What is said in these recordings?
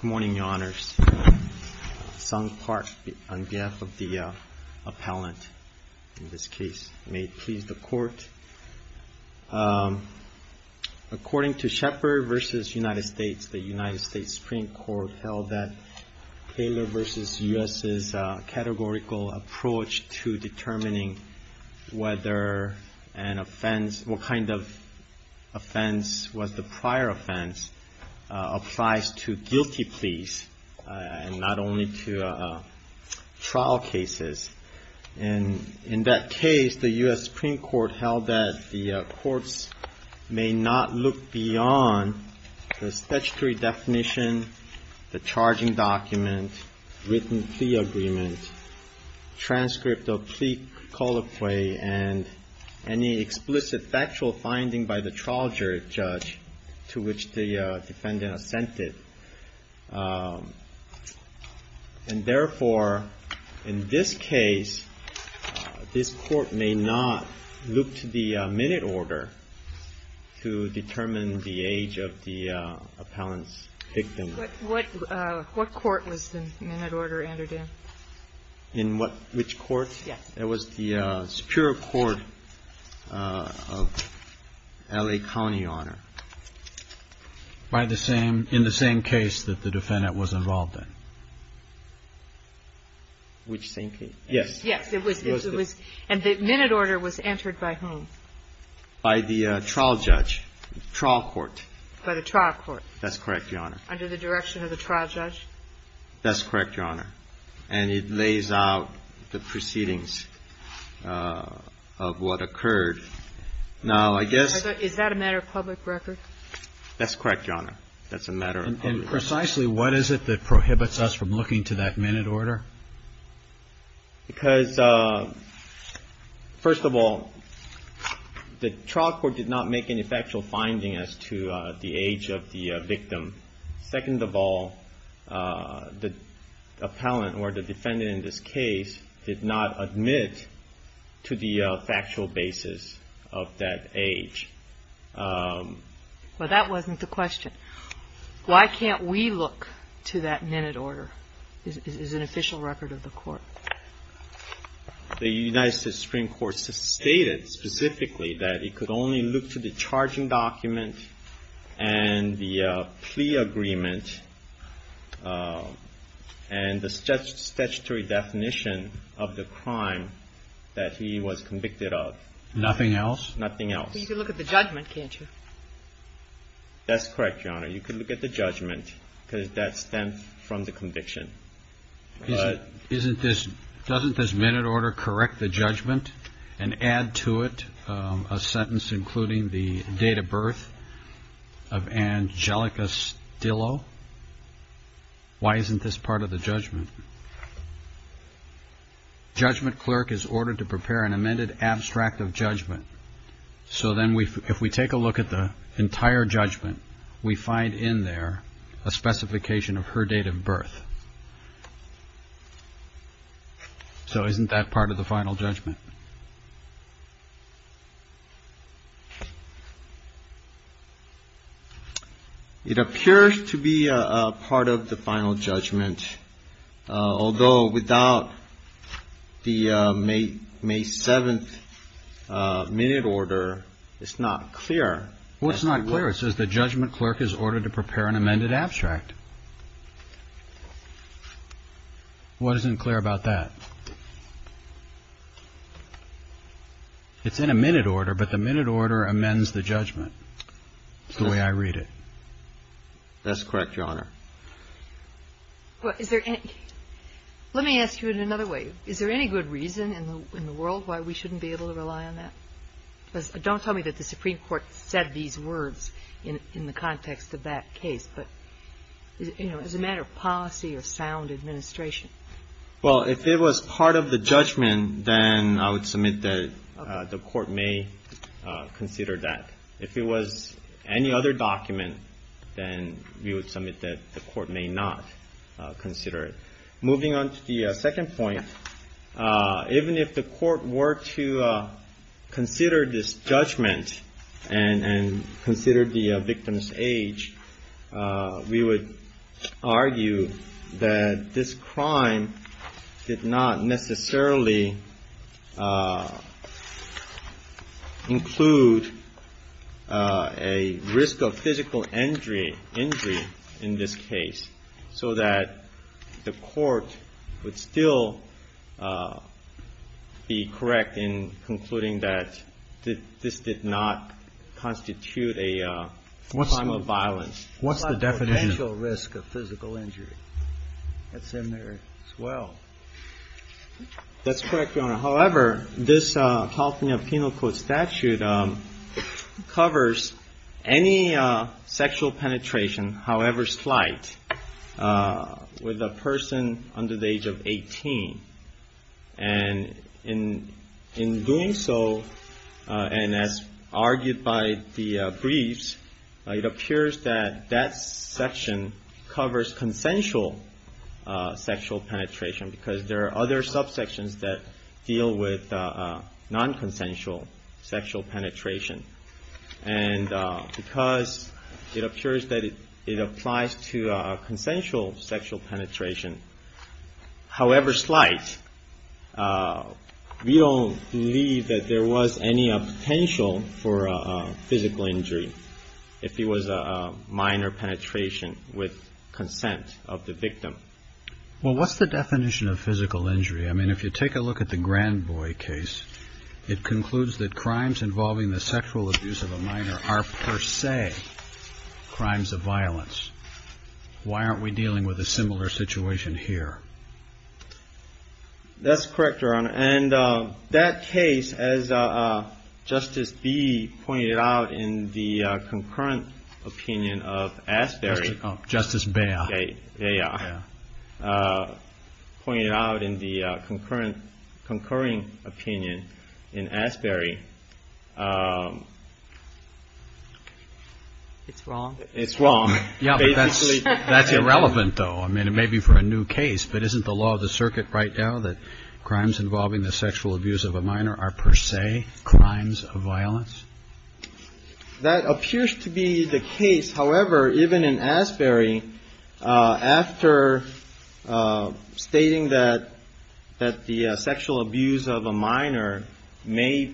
Good morning, Your Honors. Sung Park on behalf of the appellant in this case. May it please the Court. According to Shepard v. United States, the United States Supreme Court held that Taylor v. U.S.'s categorical approach to determining whether an offense, what kind of offense was the prior offense, applies to the Supreme Court. applies to guilty pleas and not only to trial cases. And in that case, the U.S. Supreme Court held that the courts may not look beyond the statutory definition, the charging document, written plea agreement, transcript of plea colloquy, and any explicit factual finding by the trial judge to which the defendant assented. And therefore, in this case, this Court may not look to the minute order to determine the age of the appellant's victim. MS. SUMMERS What court was the minute order entered in? MR. SHEPARD In which court? MS. SUMMERS Yes. MR. SHEPARD It was the Superior Court of L.A. County, Your Honor. THE COURT In the same case that the defendant was involved in. MR. SHEPARD Which same case? THE COURT Yes. MS. SUMMERS Yes. It was. And the minute order was entered by whom? MR. SHEPARD By the trial judge, trial court. MS. SUMMERS By the trial court. THE COURT That's correct, Your Honor. MS. SUMMERS Under the direction of the trial judge? MR. SHEPARD That's correct, Your Honor. And it lays out the proceedings of what occurred. Now, I guess — MS. SUMMERS Is that a matter of public record? MR. SHEPARD That's correct, Your Honor. That's a matter of public record. THE COURT And precisely what is it that prohibits us from looking to that minute order? MR. SHEPARD Because, first of all, the trial court did not make any factual findings as to the age of the victim. Second of all, the appellant or the defendant in this case did not admit to the factual basis of that age. MS. SUMMERS Well, that wasn't the question. Why can't we look to that minute order is an official record of the Court. MR. SHEPARD The United States Supreme Court stated specifically that it could only look to the charging document and the plea agreement and the statutory definition of the crime that he was convicted of. THE COURT Nothing else? MR. SHEPARD Nothing else. MS. SUMMERS Well, you can look at the judgment, can't you? MR. SHEPARD That's correct, Your Honor. You can look at the judgment because that stems from the conviction. THE COURT Doesn't this minute order correct the judgment and add to it a sentence including the date of birth of Angelica Stillo? Why isn't this part of the judgment? Judgment clerk is ordered to prepare an amended abstract of judgment. So then if we take a look at the entire judgment, we find in there a specification of her date of birth. So isn't that part of the final judgment? MR. SHEPARD It appears to be part of the final judgment, although without the May 7th minute order, it's not clear. What's not clear? It says the judgment clerk is ordered to prepare an amended abstract. What isn't clear about that? It's in a minute order, but the minute order amends the judgment, the way I read it. THE COURT That's correct, Your Honor. MS. SUMMERS Well, is there any – let me ask you in another way. Is there any good reason in the world why we shouldn't be able to rely on that? Because don't tell me that the Supreme Court said these words in the context of that case. But, you know, as a matter of policy or sound administration. MR. SHEPARD Well, if it was part of the judgment, then I would submit that the Court may consider that. If it was any other document, then we would submit that the Court may not consider it. Moving on to the second point, even if the Court were to consider this judgment and consider the victim's age, we would argue that this crime did not necessarily include a risk of physical injury in this case, so that the Court would still be correct in concluding that this did not constitute a crime of violence. THE COURT What's the definition? MR. SHEPARD It's not a potential risk of physical injury. That's in there as well. MR. SHEPARD That's correct, Your Honor. However, this California Penal Code statute covers any sexual penetration, however slight, with a person under the age of 18. And in doing so, and as argued by the briefs, it appears that that section covers consensual sexual penetration, because there are other subsections that deal with nonconsensual sexual penetration. And because it appears that it applies to consensual sexual penetration, however slight, we don't believe that there was any potential for physical injury if it was a minor penetration with consent of the victim. THE COURT Well, what's the definition of physical injury? I mean, if you take a look at the Grandboy case, it concludes that crimes involving the sexual abuse of a minor are per se crimes of violence. Why aren't we dealing with a similar situation here? MR. SHEPARD That's correct, Your Honor. And that case, as Justice Bee pointed out in the concurrent opinion of Asbury. THE COURT Justice Beyer. MR. SHEPARD Beyer pointed out in the concurrent opinion in Asbury. MR. SHEPARD It's wrong. THE COURT It's wrong. MR. SHEPARD Basically. THE COURT That's irrelevant, though. I mean, it may be for a new case. But isn't the law of the circuit right now that crimes involving the sexual abuse of a minor are per se crimes of violence? However, even in Asbury, after stating that the sexual abuse of a minor may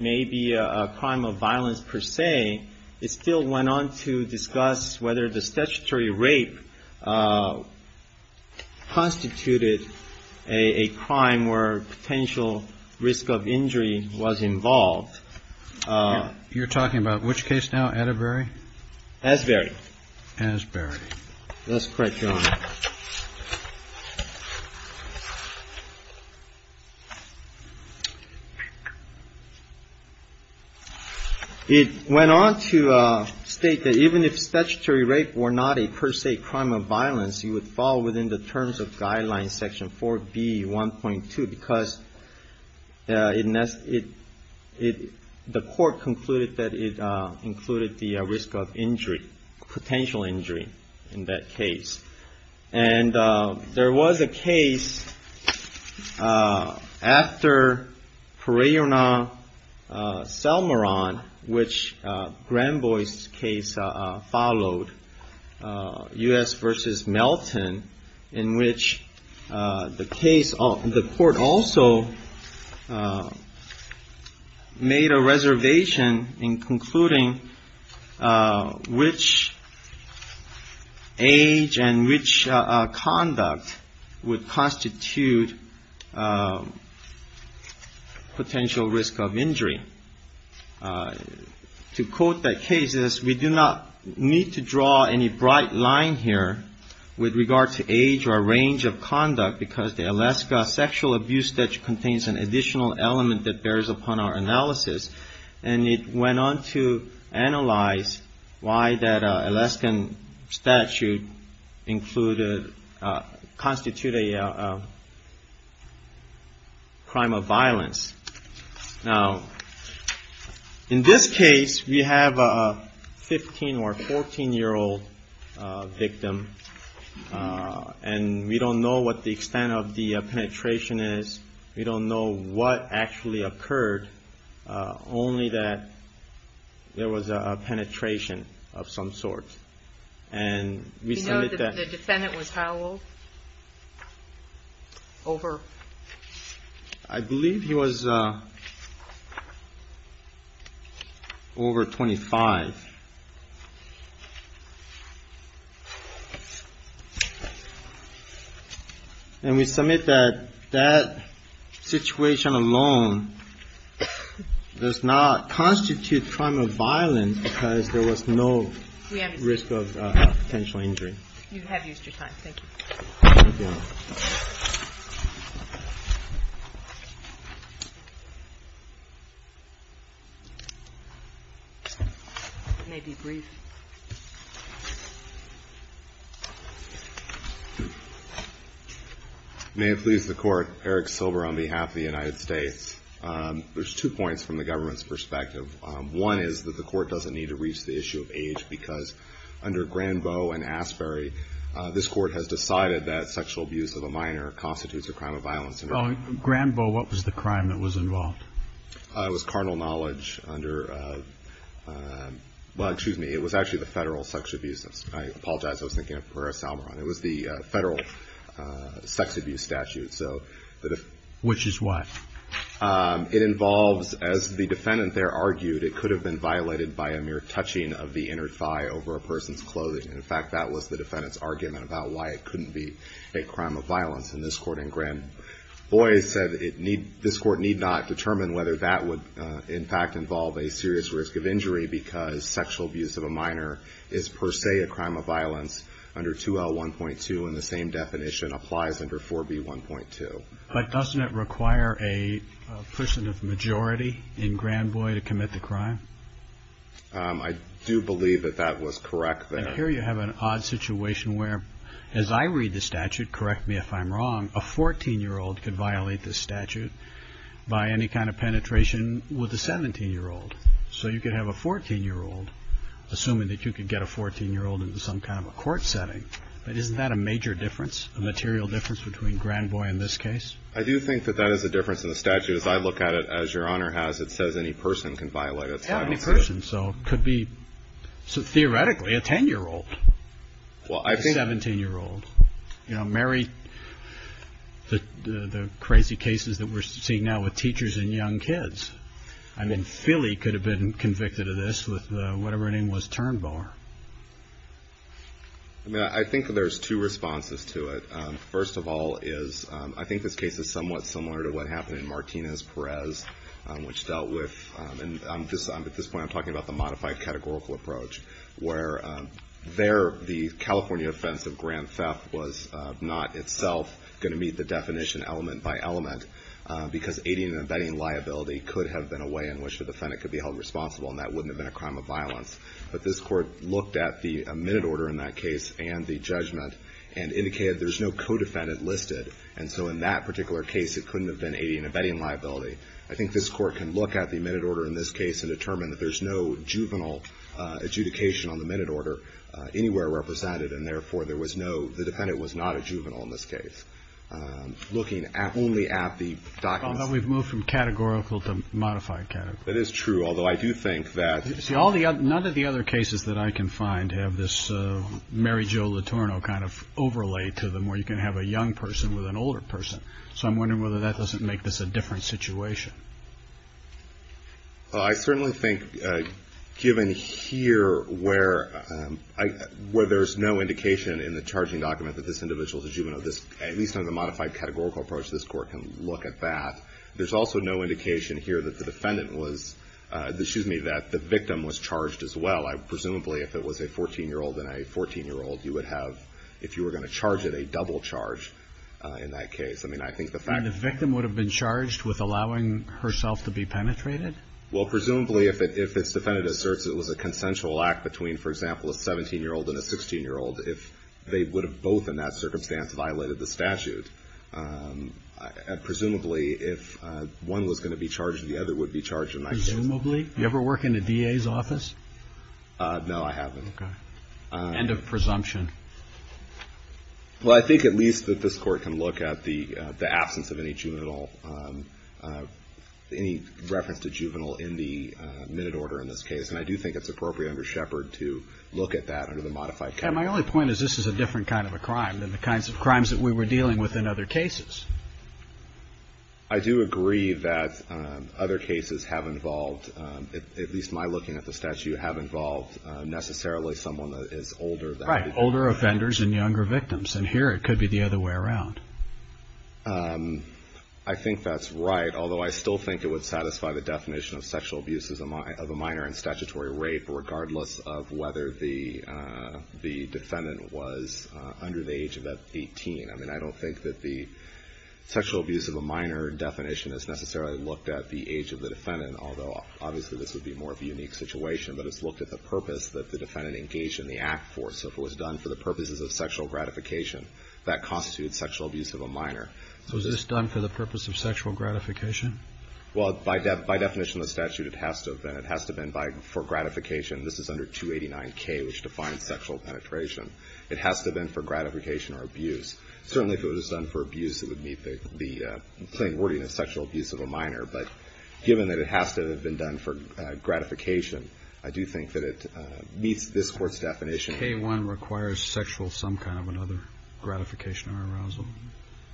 be a crime of violence per se, it still went on to discuss whether the statutory rape constituted a crime where potential risk of injury was involved. THE COURT You're talking about which case now, Atterbury? MR. SHEPARD Asbury. THE COURT Asbury. MR. SHEPARD That's correct, Your Honor. It went on to state that even if statutory rape were not a per se crime of violence, you would fall within the terms of Guidelines Section 4B.1.2 because the court concluded that it included the risk of injury, potential injury, in that case. And there was a case after Pereira-Selmaran, which Granboy's case followed, U.S. v. Melton, in which the court also made a reservation in concluding which age and which conduct would constitute potential risk of injury. To quote that case, it says, We do not need to draw any bright line here with regard to age or range of conduct because the Alaska sexual abuse statute contains an additional element that bears upon our analysis. And it went on to analyze why that Alaskan statute constituted a crime of violence. Now, in this case, we have a 15- or 14-year-old victim. And we don't know what the extent of the penetration is. We don't know what actually occurred, only that there was a penetration of some sort. And we said that the defendant was how old? Over. I believe he was over 25. And we submit that that situation alone does not constitute crime of violence because there was no risk of potential injury. You have used your time. Thank you. It may be brief. May it please the Court, Eric Silver on behalf of the United States. There's two points from the government's perspective. One is that the Court doesn't need to reach the issue of age because under Granboe and Asbury, this Court has decided that sexual abuse of a minor constitutes a crime of violence. Granboe, what was the crime that was involved? It was carnal knowledge under the federal sex abuse statute. Which is what? It involves, as the defendant there argued, it could have been violated by a mere touching of the inner thigh over a person's clothing. In fact, that was the defendant's argument about why it couldn't be a crime of violence. And this Court in Granboe said this Court need not determine whether that would, in fact, involve a serious risk of injury because sexual abuse of a minor is per se a crime of violence under 2L1.2 and the same definition applies under 4B1.2. But doesn't it require a person of majority in Granboe to commit the crime? I do believe that that was correct there. And here you have an odd situation where, as I read the statute, correct me if I'm wrong, a 14-year-old could violate this statute by any kind of penetration with a 17-year-old. So you could have a 14-year-old, assuming that you could get a 14-year-old into some kind of a court setting, but isn't that a major difference, a material difference between Granboe and this case? I do think that that is a difference in the statute. As I look at it, as Your Honor has, it says any person can violate it. Yeah, any person. So it could be, theoretically, a 10-year-old, a 17-year-old. You know, marry the crazy cases that we're seeing now with teachers and young kids. I mean, Philly could have been convicted of this with whatever her name was, Turnboer. I mean, I think that there's two responses to it. First of all is I think this case is somewhat similar to what happened in Martinez-Perez, which dealt with, and at this point I'm talking about the modified categorical approach, where there the California offense of grand theft was not itself going to meet the definition element by element because aiding and abetting liability could have been a way in which the defendant could be held responsible, and that wouldn't have been a crime of violence. But this Court looked at the minute order in that case and the judgment and indicated there's no co-defendant listed. And so in that particular case, it couldn't have been aiding and abetting liability. I think this Court can look at the minute order in this case and determine that there's no juvenile adjudication on the minute order anywhere represented, and therefore there was no, the defendant was not a juvenile in this case. Looking only at the documents. But we've moved from categorical to modified categorical. That is true, although I do think that the other. See, none of the other cases that I can find have this Mary Jo Letourneau kind of overlay to them where you can have a young person with an older person. So I'm wondering whether that doesn't make this a different situation. Well, I certainly think given here where there's no indication in the charging document that this individual is a juvenile, at least under the modified categorical approach, this Court can look at that. There's also no indication here that the defendant was, excuse me, that the victim was charged as well. Presumably if it was a 14-year-old and a 14-year-old, you would have, if you were going to charge it, a double charge in that case. I mean, I think the fact. And the victim would have been charged with allowing herself to be penetrated? Well, presumably if its defendant asserts it was a consensual act between, for example, a 17-year-old and a 16-year-old, if they would have both in that circumstance violated the statute. Presumably if one was going to be charged, the other would be charged in that case. Presumably? You ever work in a DA's office? No, I haven't. Okay. End of presumption. Well, I think at least that this Court can look at the absence of any juvenile, any reference to juvenile in the minute order in this case. And I do think it's appropriate under Shepard to look at that under the modified category. Yeah, my only point is this is a different kind of a crime than the kinds of crimes that we were dealing with in other cases. I do agree that other cases have involved, at least my looking at the statute, have involved necessarily someone that is older. Right, older offenders and younger victims. And here it could be the other way around. I think that's right, although I still think it would satisfy the definition of sexual abuse of a minor in statutory rape regardless of whether the defendant was under the age of 18. I mean, I don't think that the sexual abuse of a minor definition is necessarily looked at the age of the defendant, although obviously this would be more of a unique situation. But it's looked at the purpose that the defendant engaged in the act for. So if it was done for the purposes of sexual gratification, that constitutes sexual abuse of a minor. So is this done for the purpose of sexual gratification? Well, by definition of the statute, it has to have been. It has to have been for gratification. This is under 289K, which defines sexual penetration. It has to have been for gratification or abuse. Certainly if it was done for abuse, it would meet the plain wording of sexual abuse of a minor. But given that it has to have been done for gratification, I do think that it meets this Court's definition. K-1 requires sexual some kind of another gratification or arousal.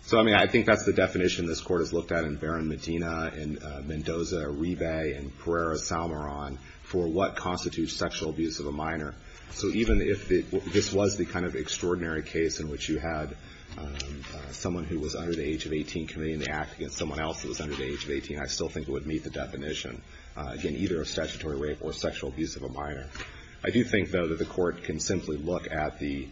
So, I mean, I think that's the definition this Court has looked at in Barron-Medina and Mendoza-Ribe and Pereira-Salmaron for what constitutes sexual abuse of a minor. So even if this was the kind of extraordinary case in which you had someone who was under the age of 18 committing the act against someone else who was under the age of 18, I still think it would meet the definition, again, either of statutory rape or sexual abuse of a minor. I do think, though, that the Court can simply look at the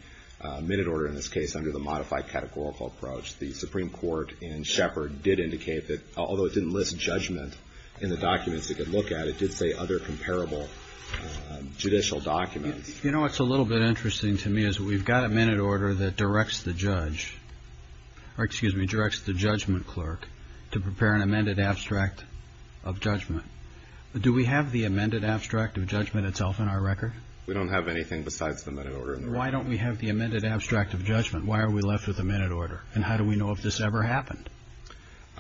minute order in this case under the modified categorical approach. The Supreme Court in Shepard did indicate that, although it didn't list judgment in the documents it could look at, it did say other comparable judicial documents. You know, what's a little bit interesting to me is we've got a minute order that directs the judge or, excuse me, directs the judgment clerk to prepare an amended abstract of judgment. Do we have the amended abstract of judgment itself in our record? We don't have anything besides the minute order. Why don't we have the amended abstract of judgment? Why are we left with the minute order, and how do we know if this ever happened?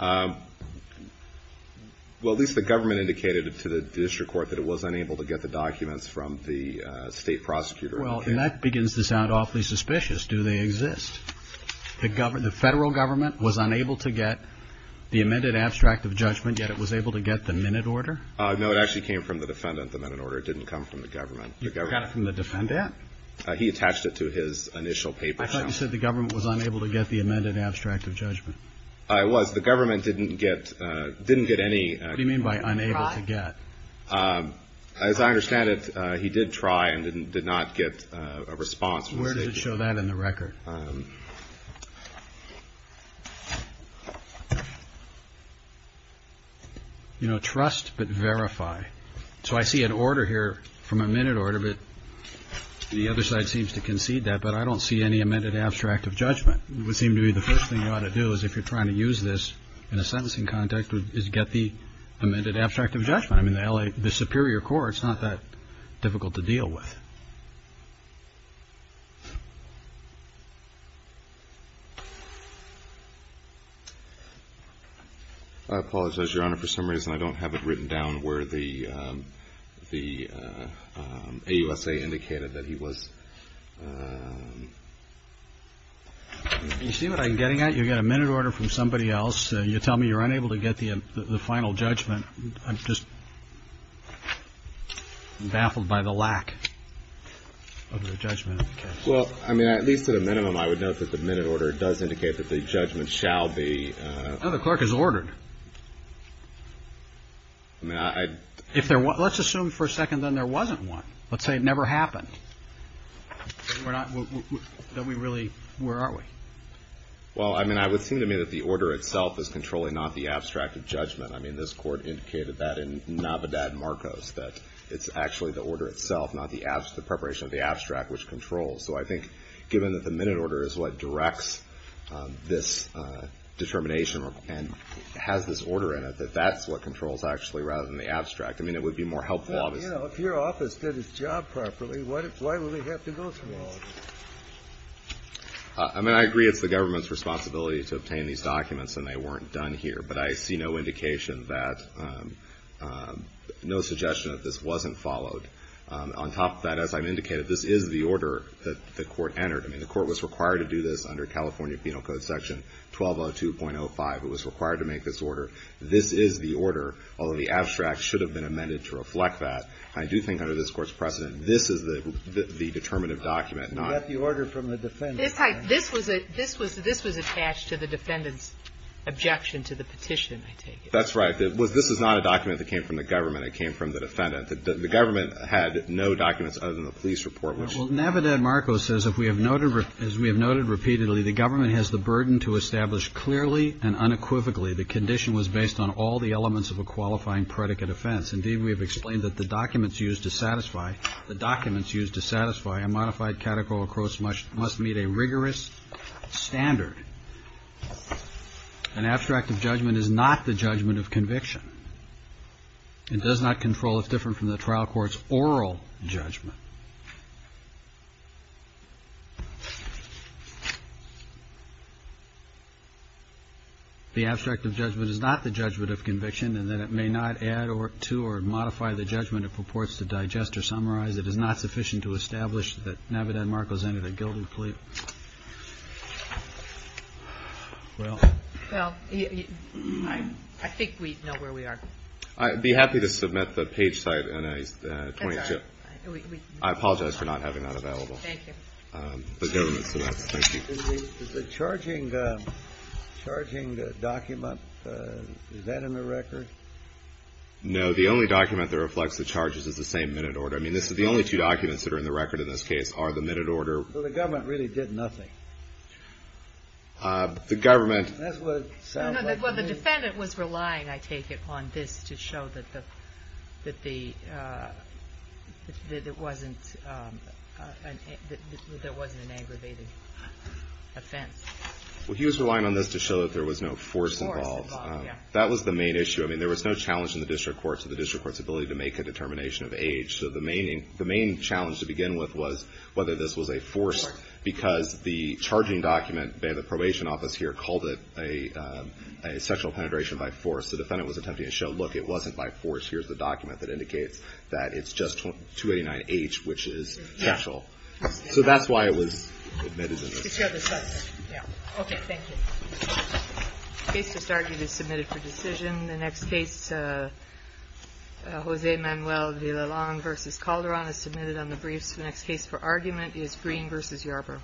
Well, at least the government indicated to the district court that it was unable to get the documents from the state prosecutor. Well, that begins to sound awfully suspicious. Do they exist? The federal government was unable to get the amended abstract of judgment, and yet it was able to get the minute order? No, it actually came from the defendant, the minute order. It didn't come from the government. You got it from the defendant? He attached it to his initial paper. I thought you said the government was unable to get the amended abstract of judgment. It was. The government didn't get any. What do you mean by unable to get? As I understand it, he did try and did not get a response. Where does it show that in the record? You know, trust but verify. So I see an order here from a minute order, but the other side seems to concede that, but I don't see any amended abstract of judgment. It would seem to me the first thing you ought to do is, if you're trying to use this in a sentencing context, is get the amended abstract of judgment. I mean, the superior court is not that difficult to deal with. I apologize, Your Honor, for some reason I don't have it written down where the AUSA indicated that he was. You see what I'm getting at? You get a minute order from somebody else. You tell me you're unable to get the final judgment. I'm just baffled by the lack of the judgment in this case. Well, I mean, at least to the minimum, I would note that the minute order does indicate that the judgment shall be. No, the clerk has ordered. Let's assume for a second then there wasn't one. Let's say it never happened. Then we really, where are we? Well, I mean, I would seem to me that the order itself is controlling not the abstract of judgment. I mean, this Court indicated that in Navidad Marcos, that it's actually the order itself, not the preparation of the abstract, which controls. So I think given that the minute order is what directs this determination and has this order in it, that that's what controls actually rather than the abstract. I mean, it would be more helpful. Well, you know, if your office did its job properly, why would we have to go through all of this? I mean, I agree it's the government's responsibility to obtain these documents, and they weren't done here. But I see no indication that, no suggestion that this wasn't followed. On top of that, as I've indicated, this is the order that the Court entered. I mean, the Court was required to do this under California Penal Code Section 1202.05. It was required to make this order. This is the order, although the abstract should have been amended to reflect that. I do think under this Court's precedent, this is the determinative document, not the order from the defendant. This was attached to the defendant's objection to the petition, I take it. That's right. This is not a document that came from the government. It came from the defendant. The government had no documents other than the police report. Well, Navidad-Marcos says, as we have noted repeatedly, the government has the burden to establish clearly and unequivocally the condition was based on all the elements of a qualifying predicate offense. Indeed, we have explained that the documents used to satisfy a modified categorical quote must meet a rigorous standard. An abstract of judgment is not the judgment of conviction. It does not control. It's different from the trial court's oral judgment. The abstract of judgment is not the judgment of conviction in that it may not add to establish that Navidad-Marcos entered a guilty plea. Well, I think we know where we are. I'd be happy to submit the page site and I apologize for not having that available. Thank you. The charging document, is that in the record? No. The only document that reflects the charges is the same minute order. I mean, the only two documents that are in the record in this case are the minute order. So the government really did nothing? The government. That's what it sounds like to me. Well, the defendant was relying, I take it, on this to show that there wasn't an aggravated offense. Well, he was relying on this to show that there was no force involved. Force involved, yeah. That was the main issue. I mean, there was no challenge in the district court to the district court's ability to make a determination of age. So the main challenge to begin with was whether this was a force, because the charging document, the probation office here called it a sexual penetration by force. The defendant was attempting to show, look, it wasn't by force. Here's the document that indicates that it's just 289H, which is sexual. So that's why it was admitted as an aggravated offense. Okay, thank you. The case to start is submitted for decision. The next case, Jose Manuel Villalon v. Calderon, is submitted on the briefs. The next case for argument is Green v. Yarbrough.